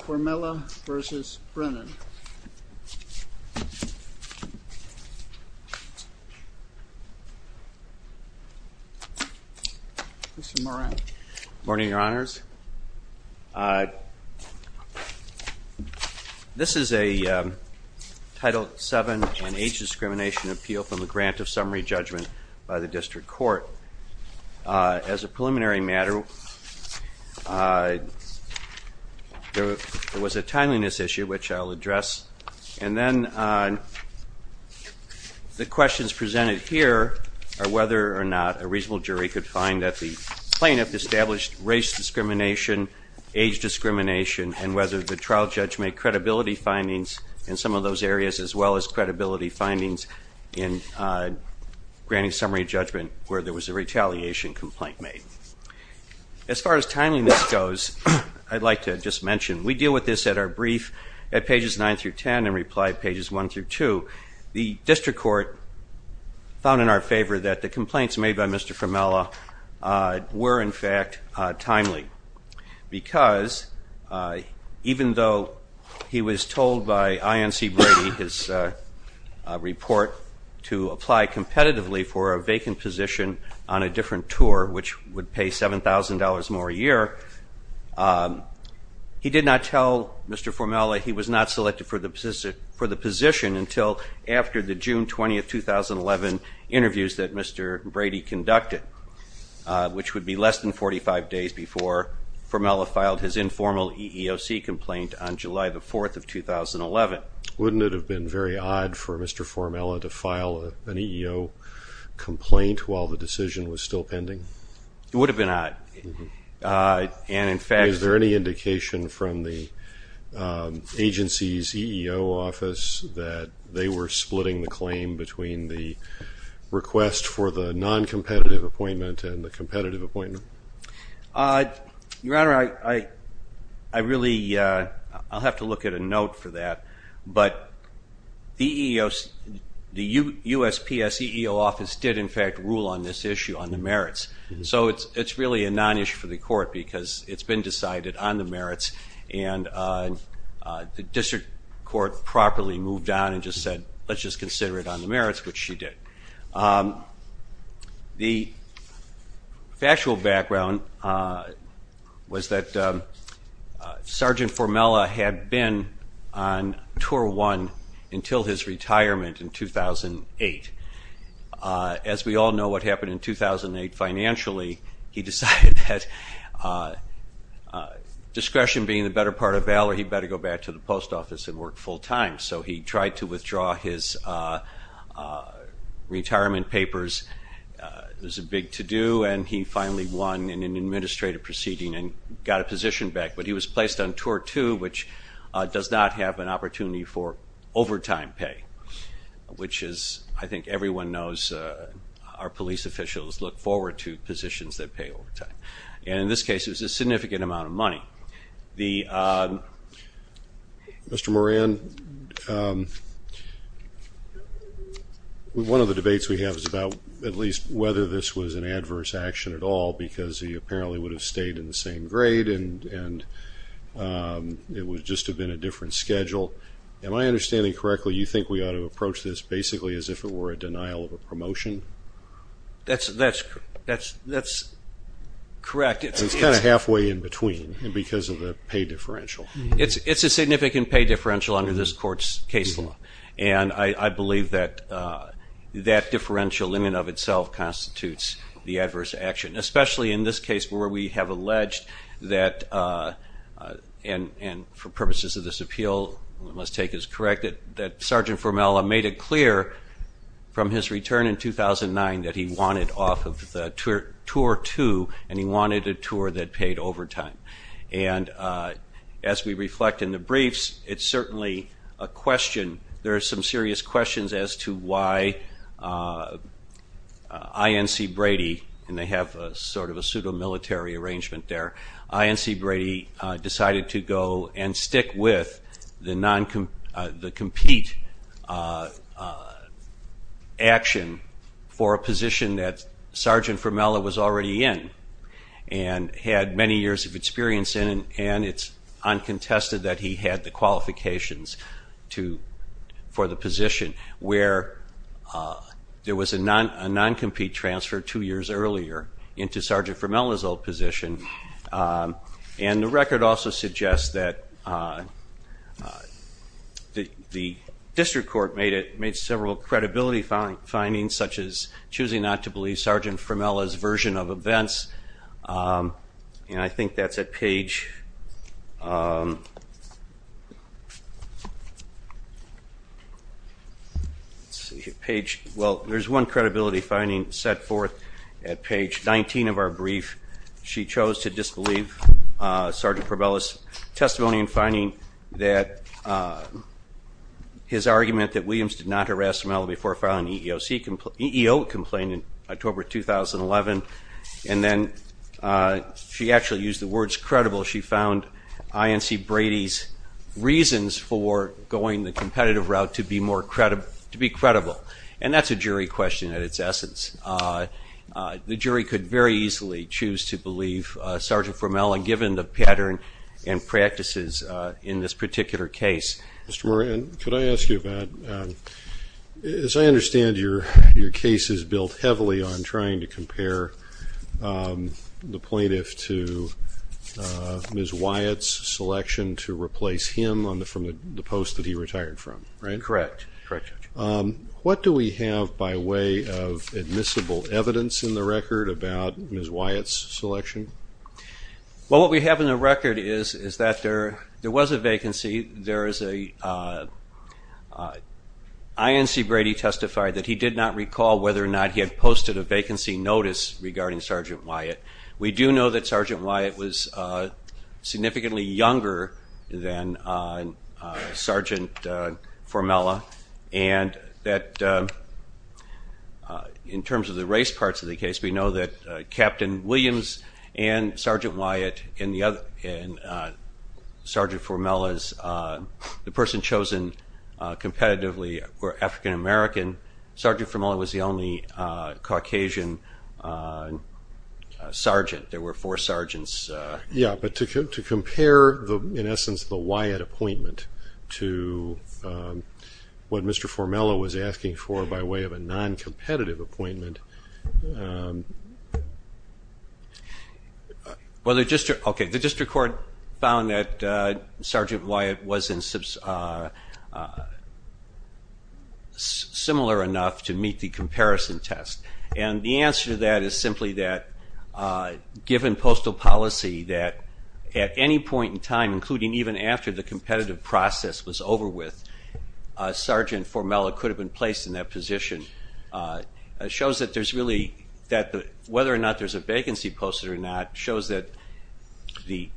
Formella v. Brennan Morning, Your Honors. This is a Title VII and H discrimination appeal from the Grant of Summary Judgment by the District Court. As a preliminary matter, there was a timeliness issue, which I'll address. And then the questions presented here are whether or not a reasonable jury could find that the plaintiff established race discrimination, age discrimination, and whether the trial judge made credibility findings in some of those areas, as well as credibility findings in Grant of Summary Judgment, where there was a timeliness issue. As far as timeliness goes, I'd like to just mention, we deal with this at our brief at pages 9 through 10 and reply pages 1 through 2. The District Court found in our favor that the complaints made by Mr. Formella were, in fact, timely. Because, even though he was told by INC Brady his report to apply competitively for a vacant position on a different tour, which would pay $7,000 more a year, he did not tell Mr. Formella he was not selected for the position until after the June 20, 2011, interviews that Mr. Brady conducted, which would be less than 45 days before. Mr. Formella filed his informal EEOC complaint on July 4, 2011. Wouldn't it have been very odd for Mr. Formella to file an EEO complaint while the decision was still pending? It would have been odd. Is there any indication from the agency's EEO office that they were splitting the claim between the request for the non-competitive appointment and the competitive appointment? Your Honor, I'll have to look at a note for that, but the USPS EEO office did, in fact, rule on this issue on the merits. So it's really a non-issue for the court because it's been decided on the merits and the District Court properly moved on and just said, let's just consider it on the merits, which she did. The factual background was that Sergeant Formella had been on tour one until his retirement in 2008. As we all know what happened in 2008 financially, he decided that discretion being the better part of valor, he better go back to the post office and work full time. So he tried to withdraw his retirement papers. It was a big to-do and he finally won in an administrative proceeding and got a position back. But he was placed on tour two, which does not have an opportunity for overtime pay, which I think everyone knows our police officials look forward to positions that pay overtime. And in this case, it was a significant amount of money. Mr. Moran, one of the debates we have is about at least whether this was an adverse action at all because he apparently would have stayed in the same grade and it would just have been a different schedule. Am I understanding correctly, you think we ought to approach this basically as if it were a denial of a promotion? That's correct. It's kind of halfway in between because of the pay differential. It's a significant pay differential under this court's case law. And I believe that that differential in and of itself constitutes the adverse action. Especially in this case where we have alleged that, and for purposes of this appeal, one must take as correct, that Sergeant Formella made it clear from his return in 2009 that he wanted off of tour two and he wanted a tour that paid overtime. And as we reflect in the briefs, it's certainly a question, there are some serious questions as to why INC Brady, and they have sort of a pseudo-military arrangement there, INC Brady decided to go and stick with the compete action for a position that Sergeant Formella was already in. And had many years of experience in and it's uncontested that he had the qualifications for the position where there was a non-compete transfer two years earlier into Sergeant Formella's old position. And the record also suggests that the district court made several credibility findings such as choosing not to believe Sergeant Formella's version of events. And I think that's at page, well there's one credibility finding set forth at page 19 of our brief. She chose to disbelieve Sergeant Formella's testimony in finding that his argument that Williams did not harass Mel before filing an EEO complaint in October 2011. And then she actually used the words credible, she found INC Brady's reasons for going the competitive route to be credible. And that's a jury question at its essence. The jury could very easily choose to believe Sergeant Formella given the pattern and practices in this particular case. Mr. Moran, could I ask you about, as I understand your case is built heavily on trying to compare the plaintiff to Ms. Wyatt's selection to replace him from the post that he retired from, right? Correct. What do we have by way of admissible evidence in the record about Ms. Wyatt's selection? Well what we have in the record is that there was a vacancy, there is a, INC Brady testified that he did not recall whether or not he had posted a vacancy notice regarding Sergeant Wyatt. We do know that Sergeant Wyatt was significantly younger than Sergeant Formella. And that in terms of the race parts of the case, we know that Captain Williams and Sergeant Wyatt and Sergeant Formella's, the person chosen competitively were African American. Sergeant Formella was the only Caucasian sergeant. There were four sergeants. Yeah, but to compare in essence the Wyatt appointment to what Mr. Formella was asking for by way of a non-competitive appointment. The district court found that Sergeant Wyatt was not similar enough to meet the comparison test. And the answer to that is simply that given postal policy that at any point in time, including even after the competitive process was over with, Sergeant Formella could have been placed in that position. It shows that there's really, whether or not there's a vacancy posted or not, it shows that the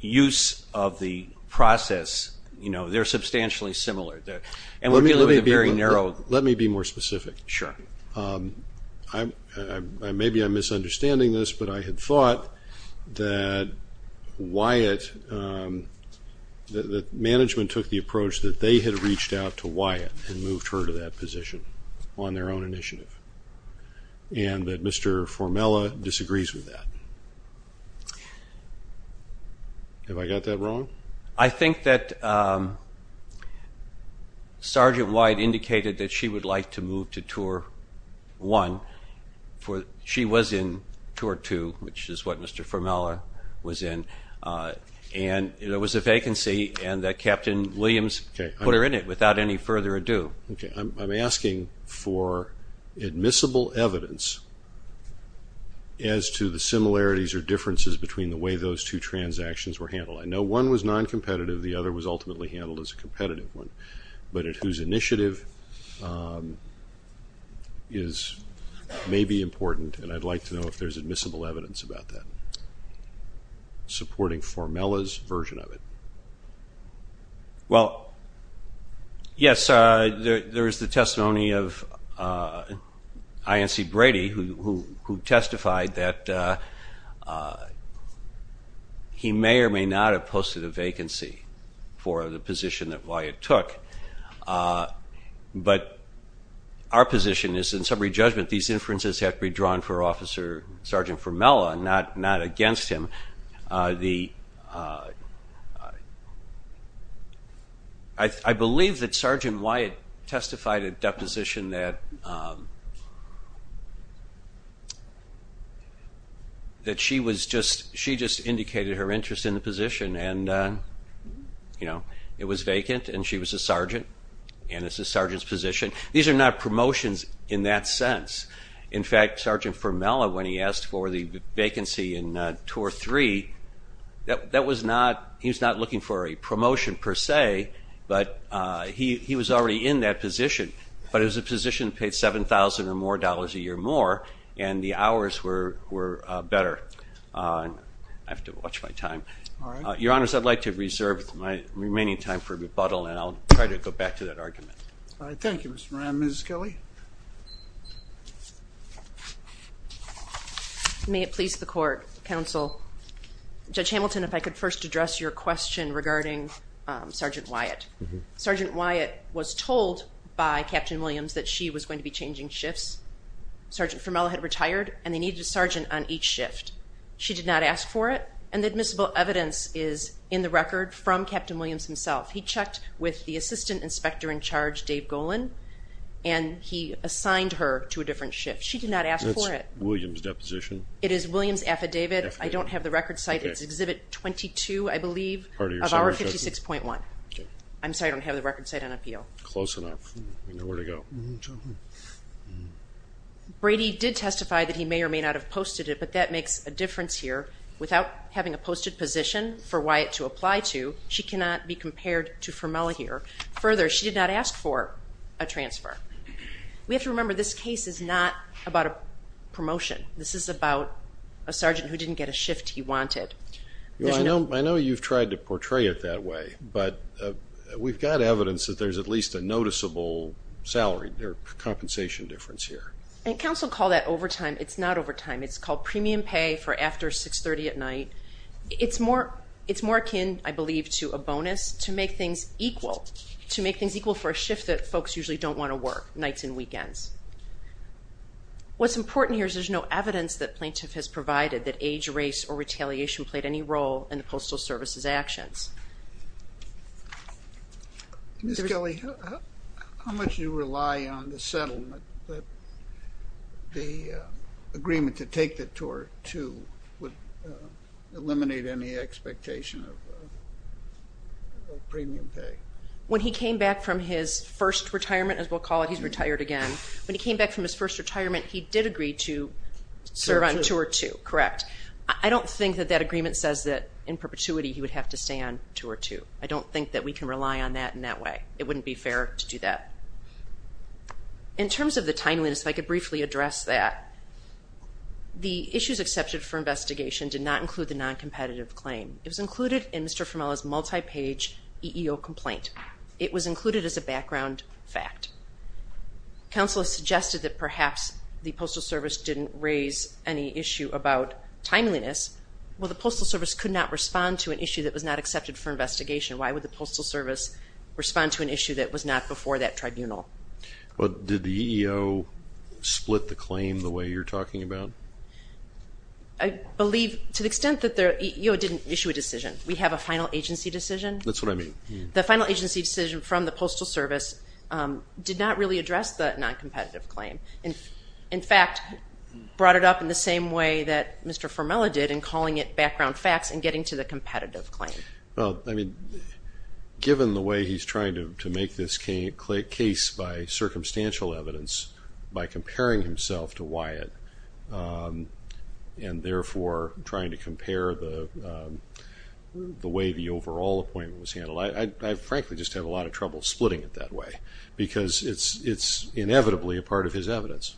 use of the process, you know, they're substantially similar. Let me be more specific. Sure. Maybe I'm misunderstanding this, but I had thought that Wyatt, that management took the approach that they had reached out to Wyatt and moved her to that position on their own initiative. And that Mr. Formella disagrees with that. I think that Sergeant Wyatt indicated that she would like to move to tour one. She was in tour two, which is what Mr. Formella was in. And there was a vacancy and that Captain Williams put her in it without any further ado. I'm asking for admissible evidence as to the similarities or differences between the way those two transactions were handled. I know one was non-competitive. The other was ultimately handled as a competitive one. But whose initiative may be important, and I'd like to know if there's admissible evidence about that, supporting Formella's version of it. Well, yes, there is the testimony of INC Brady, who testified that he may or may not have posted a vacancy for the position that Wyatt took. But our position is, in summary judgment, these inferences have to be drawn for Officer Sergeant Formella, not against him. I believe that Sergeant Wyatt testified at deposition that she just indicated her interest in the position. And it was vacant and she was a sergeant, and it's a sergeant's position. These are not promotions in that sense. In fact, Sergeant Formella, when he asked for the vacancy in tour three, he was not looking for a promotion per se, but he was already in that position. But it was a position that paid $7,000 or more a year more, and the hours were better. I have to watch my time. Your Honors, I'd like to reserve my remaining time for rebuttal, and I'll try to go back to that argument. Thank you, Mr. Moran. Mrs. Kelly? May it please the Court, Counsel. Judge Hamilton, if I could first address your question regarding Sergeant Wyatt. Sergeant Wyatt was told by Captain Williams that she was going to be changing shifts. Sergeant Formella had retired, and they needed a sergeant on each shift. She did not ask for it, and the admissible evidence is in the record from Captain Williams himself. He checked with the assistant inspector in charge, Dave Golan, and he assigned her to a different shift. She did not ask for it. Is this Williams' deposition? It is Williams' affidavit. I don't have the record site. It's Exhibit 22, I believe, of Hour 56.1. I'm sorry, I don't have the record site on appeal. Close enough. We know where to go. Brady did testify that he may or may not have posted it, but that makes a difference here. Without having a posted position for Wyatt to apply to, she cannot be compared to Formella here. Further, she did not ask for a transfer. We have to remember this case is not about a promotion. This is about a sergeant who didn't get a shift he wanted. I know you've tried to portray it that way, but we've got evidence that there's at least a noticeable salary, or compensation difference here. And counsel call that overtime. It's not overtime. It's called premium pay for after 6.30 at night. It's more akin, I believe, to a bonus to make things equal, to make things equal for a shift that folks usually don't want to work, nights and weekends. What's important here is there's no evidence that plaintiff has provided that age, race, or retaliation played any role in the Postal Service's actions. Ms. Kelly, how much do you rely on the settlement that the agreement to take the Tour 2 would eliminate any expectation of premium pay? When he came back from his first retirement, as we'll call it, he's retired again. When he came back from his first retirement, he did agree to serve on Tour 2, correct? I don't think that that agreement says that in perpetuity he would have to stay on Tour 2. I don't think that we can rely on that in that way. It wouldn't be fair to do that. In terms of the timeliness, if I could briefly address that. The issues accepted for investigation did not include the non-competitive claim. It was included in Mr. Formella's multi-page EEO complaint. It was included as a background fact. Counsel has suggested that perhaps the Postal Service didn't raise any issue about timeliness. Well, the Postal Service could not respond to an issue that was not accepted for investigation. Why would the Postal Service respond to an issue that was not before that tribunal? Did the EEO split the claim the way you're talking about? I believe to the extent that the EEO didn't issue a decision. We have a final agency decision. That's what I mean. The final agency decision from the Postal Service did not really address the non-competitive claim. In fact, brought it up in the same way that Mr. Formella did in calling it background facts and getting to the competitive claim. Given the way he's trying to make this case by circumstantial evidence, by comparing himself to Wyatt, and therefore trying to compare the way the overall appointment was handled, I frankly just have a lot of trouble splitting it that way because it's inevitably a part of his evidence.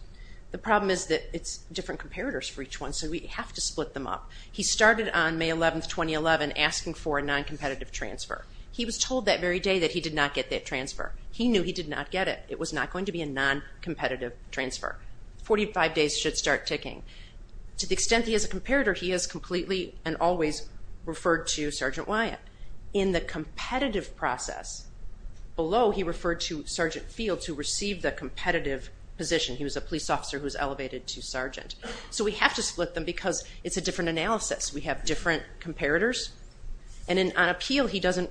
The problem is that it's different comparators for each one, so we have to split them up. He started on May 11, 2011, asking for a non-competitive transfer. He was told that very day that he did not get that transfer. He knew he did not get it. It was not going to be a non-competitive transfer. 45 days should start ticking. To the extent that he is a comparator, he has completely and always referred to Sergeant Wyatt. In the competitive process, below he referred to Sergeant Fields who received the competitive position. He was a police officer who was elevated to sergeant. So we have to split them because it's a different analysis. We have different comparators. And on appeal, he doesn't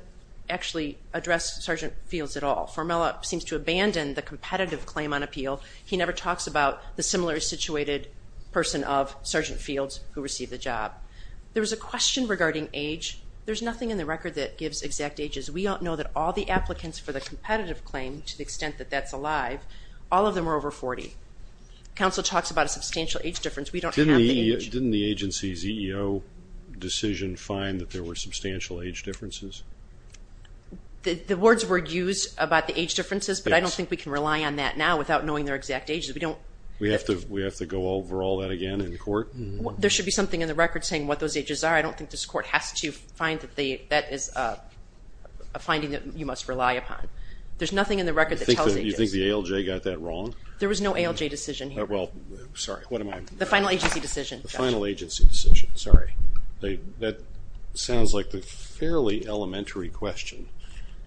actually address Sergeant Fields at all. Formella seems to abandon the competitive claim on appeal. He never talks about the similarly situated person of Sergeant Fields who received the job. There was a question regarding age. There's nothing in the record that gives exact ages. We don't know that all the applicants for the competitive claim, to the extent that that's alive, all of them are over 40. Counsel talks about a substantial age difference. We don't have the age. Didn't the agency's EEO decision find that there were substantial age differences? The words were used about the age differences, but I don't think we can rely on that now without knowing their exact ages. We have to go over all that again in court? There should be something in the record saying what those ages are. I don't think this court has to find that that is a finding that you must rely upon. There's nothing in the record that tells ages. You think the ALJ got that wrong? There was no ALJ decision here. Well, sorry, what am I? The final agency decision. The final agency decision, sorry. That sounds like a fairly elementary question,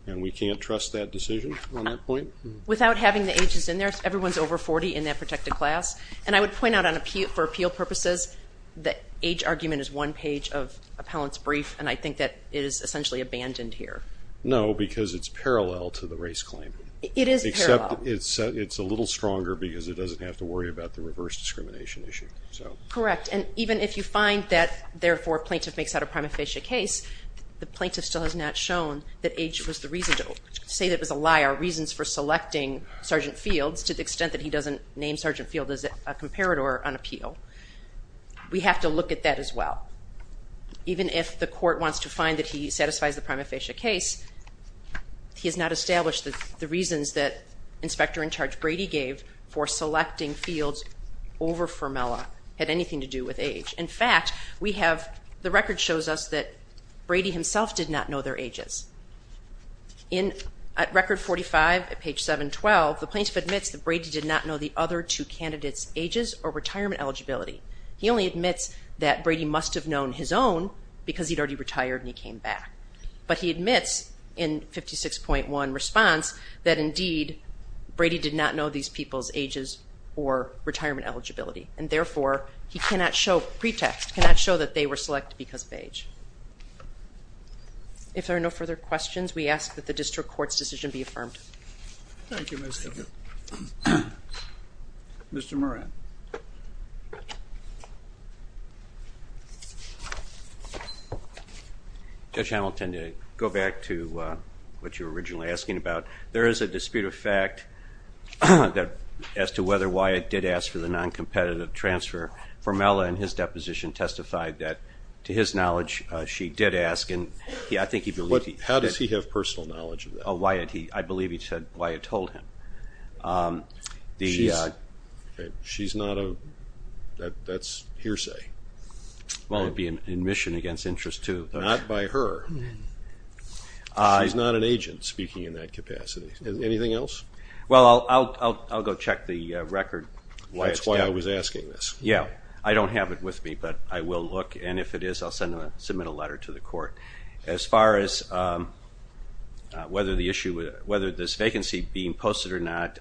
and we can't trust that decision on that point? Without having the ages in there, everyone's over 40 in that protected class. And I would point out for appeal purposes, the age argument is one page of appellant's brief, and I think that is essentially abandoned here. No, because it's parallel to the race claim. It is parallel. Except it's a little stronger because it doesn't have to worry about the reverse discrimination issue. Correct, and even if you find that, therefore, plaintiff makes out a prima facie case, the plaintiff still has not shown that age was the reason to say that it was a lie or reasons for selecting Sergeant Fields to the extent that he doesn't name Sergeant Fields as a comparator on appeal. We have to look at that as well. Even if the court wants to find that he satisfies the prima facie case, he has not established that the reasons that Inspector in Charge Brady gave for selecting Fields over Fermella had anything to do with age. In fact, we have, the record shows us that Brady himself did not know their ages. At Record 45, at page 712, the plaintiff admits that Brady did not know the other two candidates' ages or retirement eligibility. He only admits that Brady must have known his own because he'd already retired and he came back. But he admits in 56.1 response that, indeed, Brady did not know these people's ages or retirement eligibility, and, therefore, he cannot show pretext, cannot show that they were selected because of age. If there are no further questions, we ask that the district court's decision be affirmed. Thank you, Mr. Chairman. Mr. Moran. Judge Hamilton, to go back to what you were originally asking about, there is a dispute of fact as to whether Wyatt did ask for the noncompetitive transfer. Fermella, in his deposition, testified that, to his knowledge, she did ask, and I think he believed he did. How does he have personal knowledge of that? Oh, Wyatt, I believe he said Wyatt told him. She's not a, that's hearsay. Well, it would be an admission against interest, too. Not by her. She's not an agent, speaking in that capacity. Anything else? Well, I'll go check the record. That's why I was asking this. Yeah, I don't have it with me, but I will look, and if it is, I'll submit a letter to the court. As far as whether this vacancy being posted or not,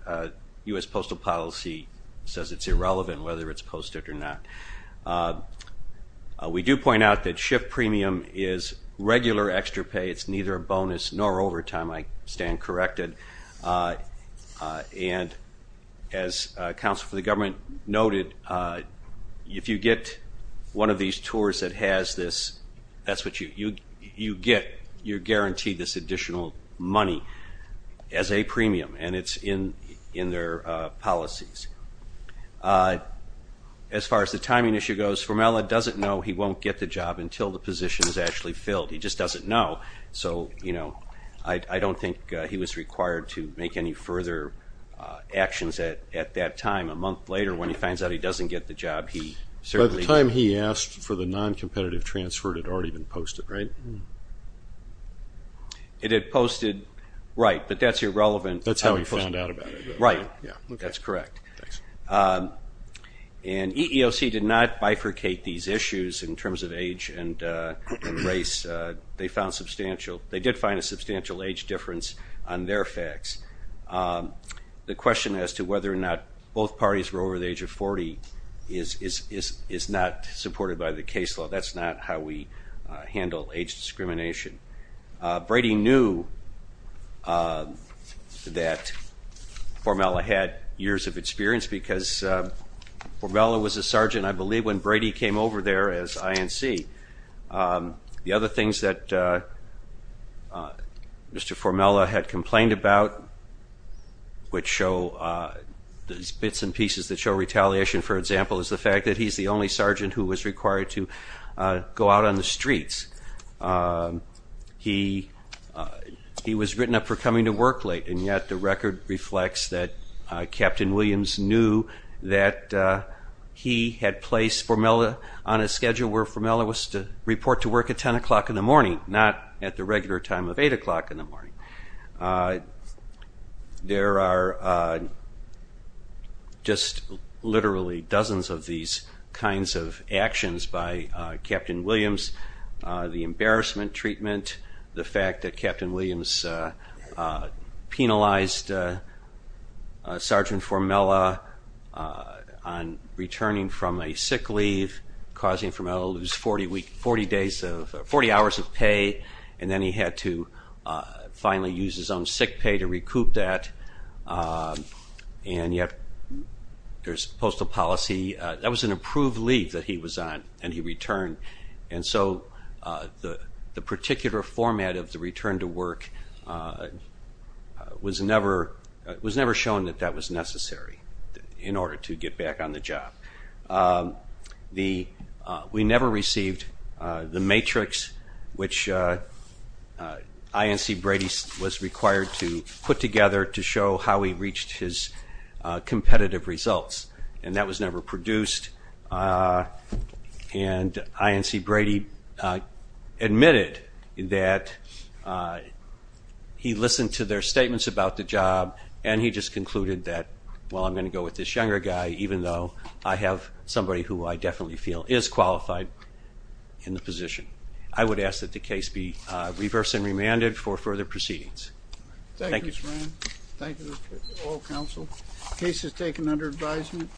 U.S. Postal Policy says it's irrelevant whether it's posted or not. We do point out that ship premium is regular extra pay. It's neither a bonus nor overtime. I stand corrected. And as counsel for the government noted, if you get one of these tours that has this, that's what you get, you're guaranteed this additional money as a premium, and it's in their policies. As far as the timing issue goes, Formella doesn't know he won't get the job until the position is actually filled. He just doesn't know, so, you know, I don't think he was required to make any further actions at that time. A month later, when he finds out he doesn't get the job, he certainly. By the time he asked for the noncompetitive transfer, it had already been posted, right? It had posted, right, but that's irrelevant. That's how he found out about it. Right, that's correct. And EEOC did not bifurcate these issues in terms of age and race. They did find a substantial age difference on their facts. The question as to whether or not both parties were over the age of 40 is not supported by the case law. That's not how we handle age discrimination. Brady knew that Formella had years of experience because Formella was a sergeant, I believe, when Brady came over there as INC. The other things that Mr. Formella had complained about, which show these bits and pieces that show retaliation, for example, is the fact that he's the only sergeant who was required to go out on the streets. He was written up for coming to work late, and yet the record reflects that Captain Williams knew that he had placed Formella on a schedule where Formella was to report to work at 10 o'clock in the morning, not at the regular time of 8 o'clock in the morning. There are just literally dozens of these kinds of actions by Captain Williams. The embarrassment treatment, the fact that Captain Williams penalized Sergeant Formella on returning from a sick leave, causing Formella to lose 40 hours of pay, and then he had to finally use his own sick pay to recoup that. And yet there's postal policy. That was an approved leave that he was on, and he returned. And so the particular format of the return to work was never shown that that was necessary in order to get back on the job. We never received the matrix which INC Brady was required to put together to show how he reached his competitive results, and that was never produced. And INC Brady admitted that he listened to their statements about the job, and he just concluded that, well, I'm going to go with this younger guy, even though I have somebody who I definitely feel is qualified in the position. I would ask that the case be reverse and remanded for further proceedings. Thank you. Thank you, Mr. Ryan. Thank you to all counsel. The case is taken under advisement.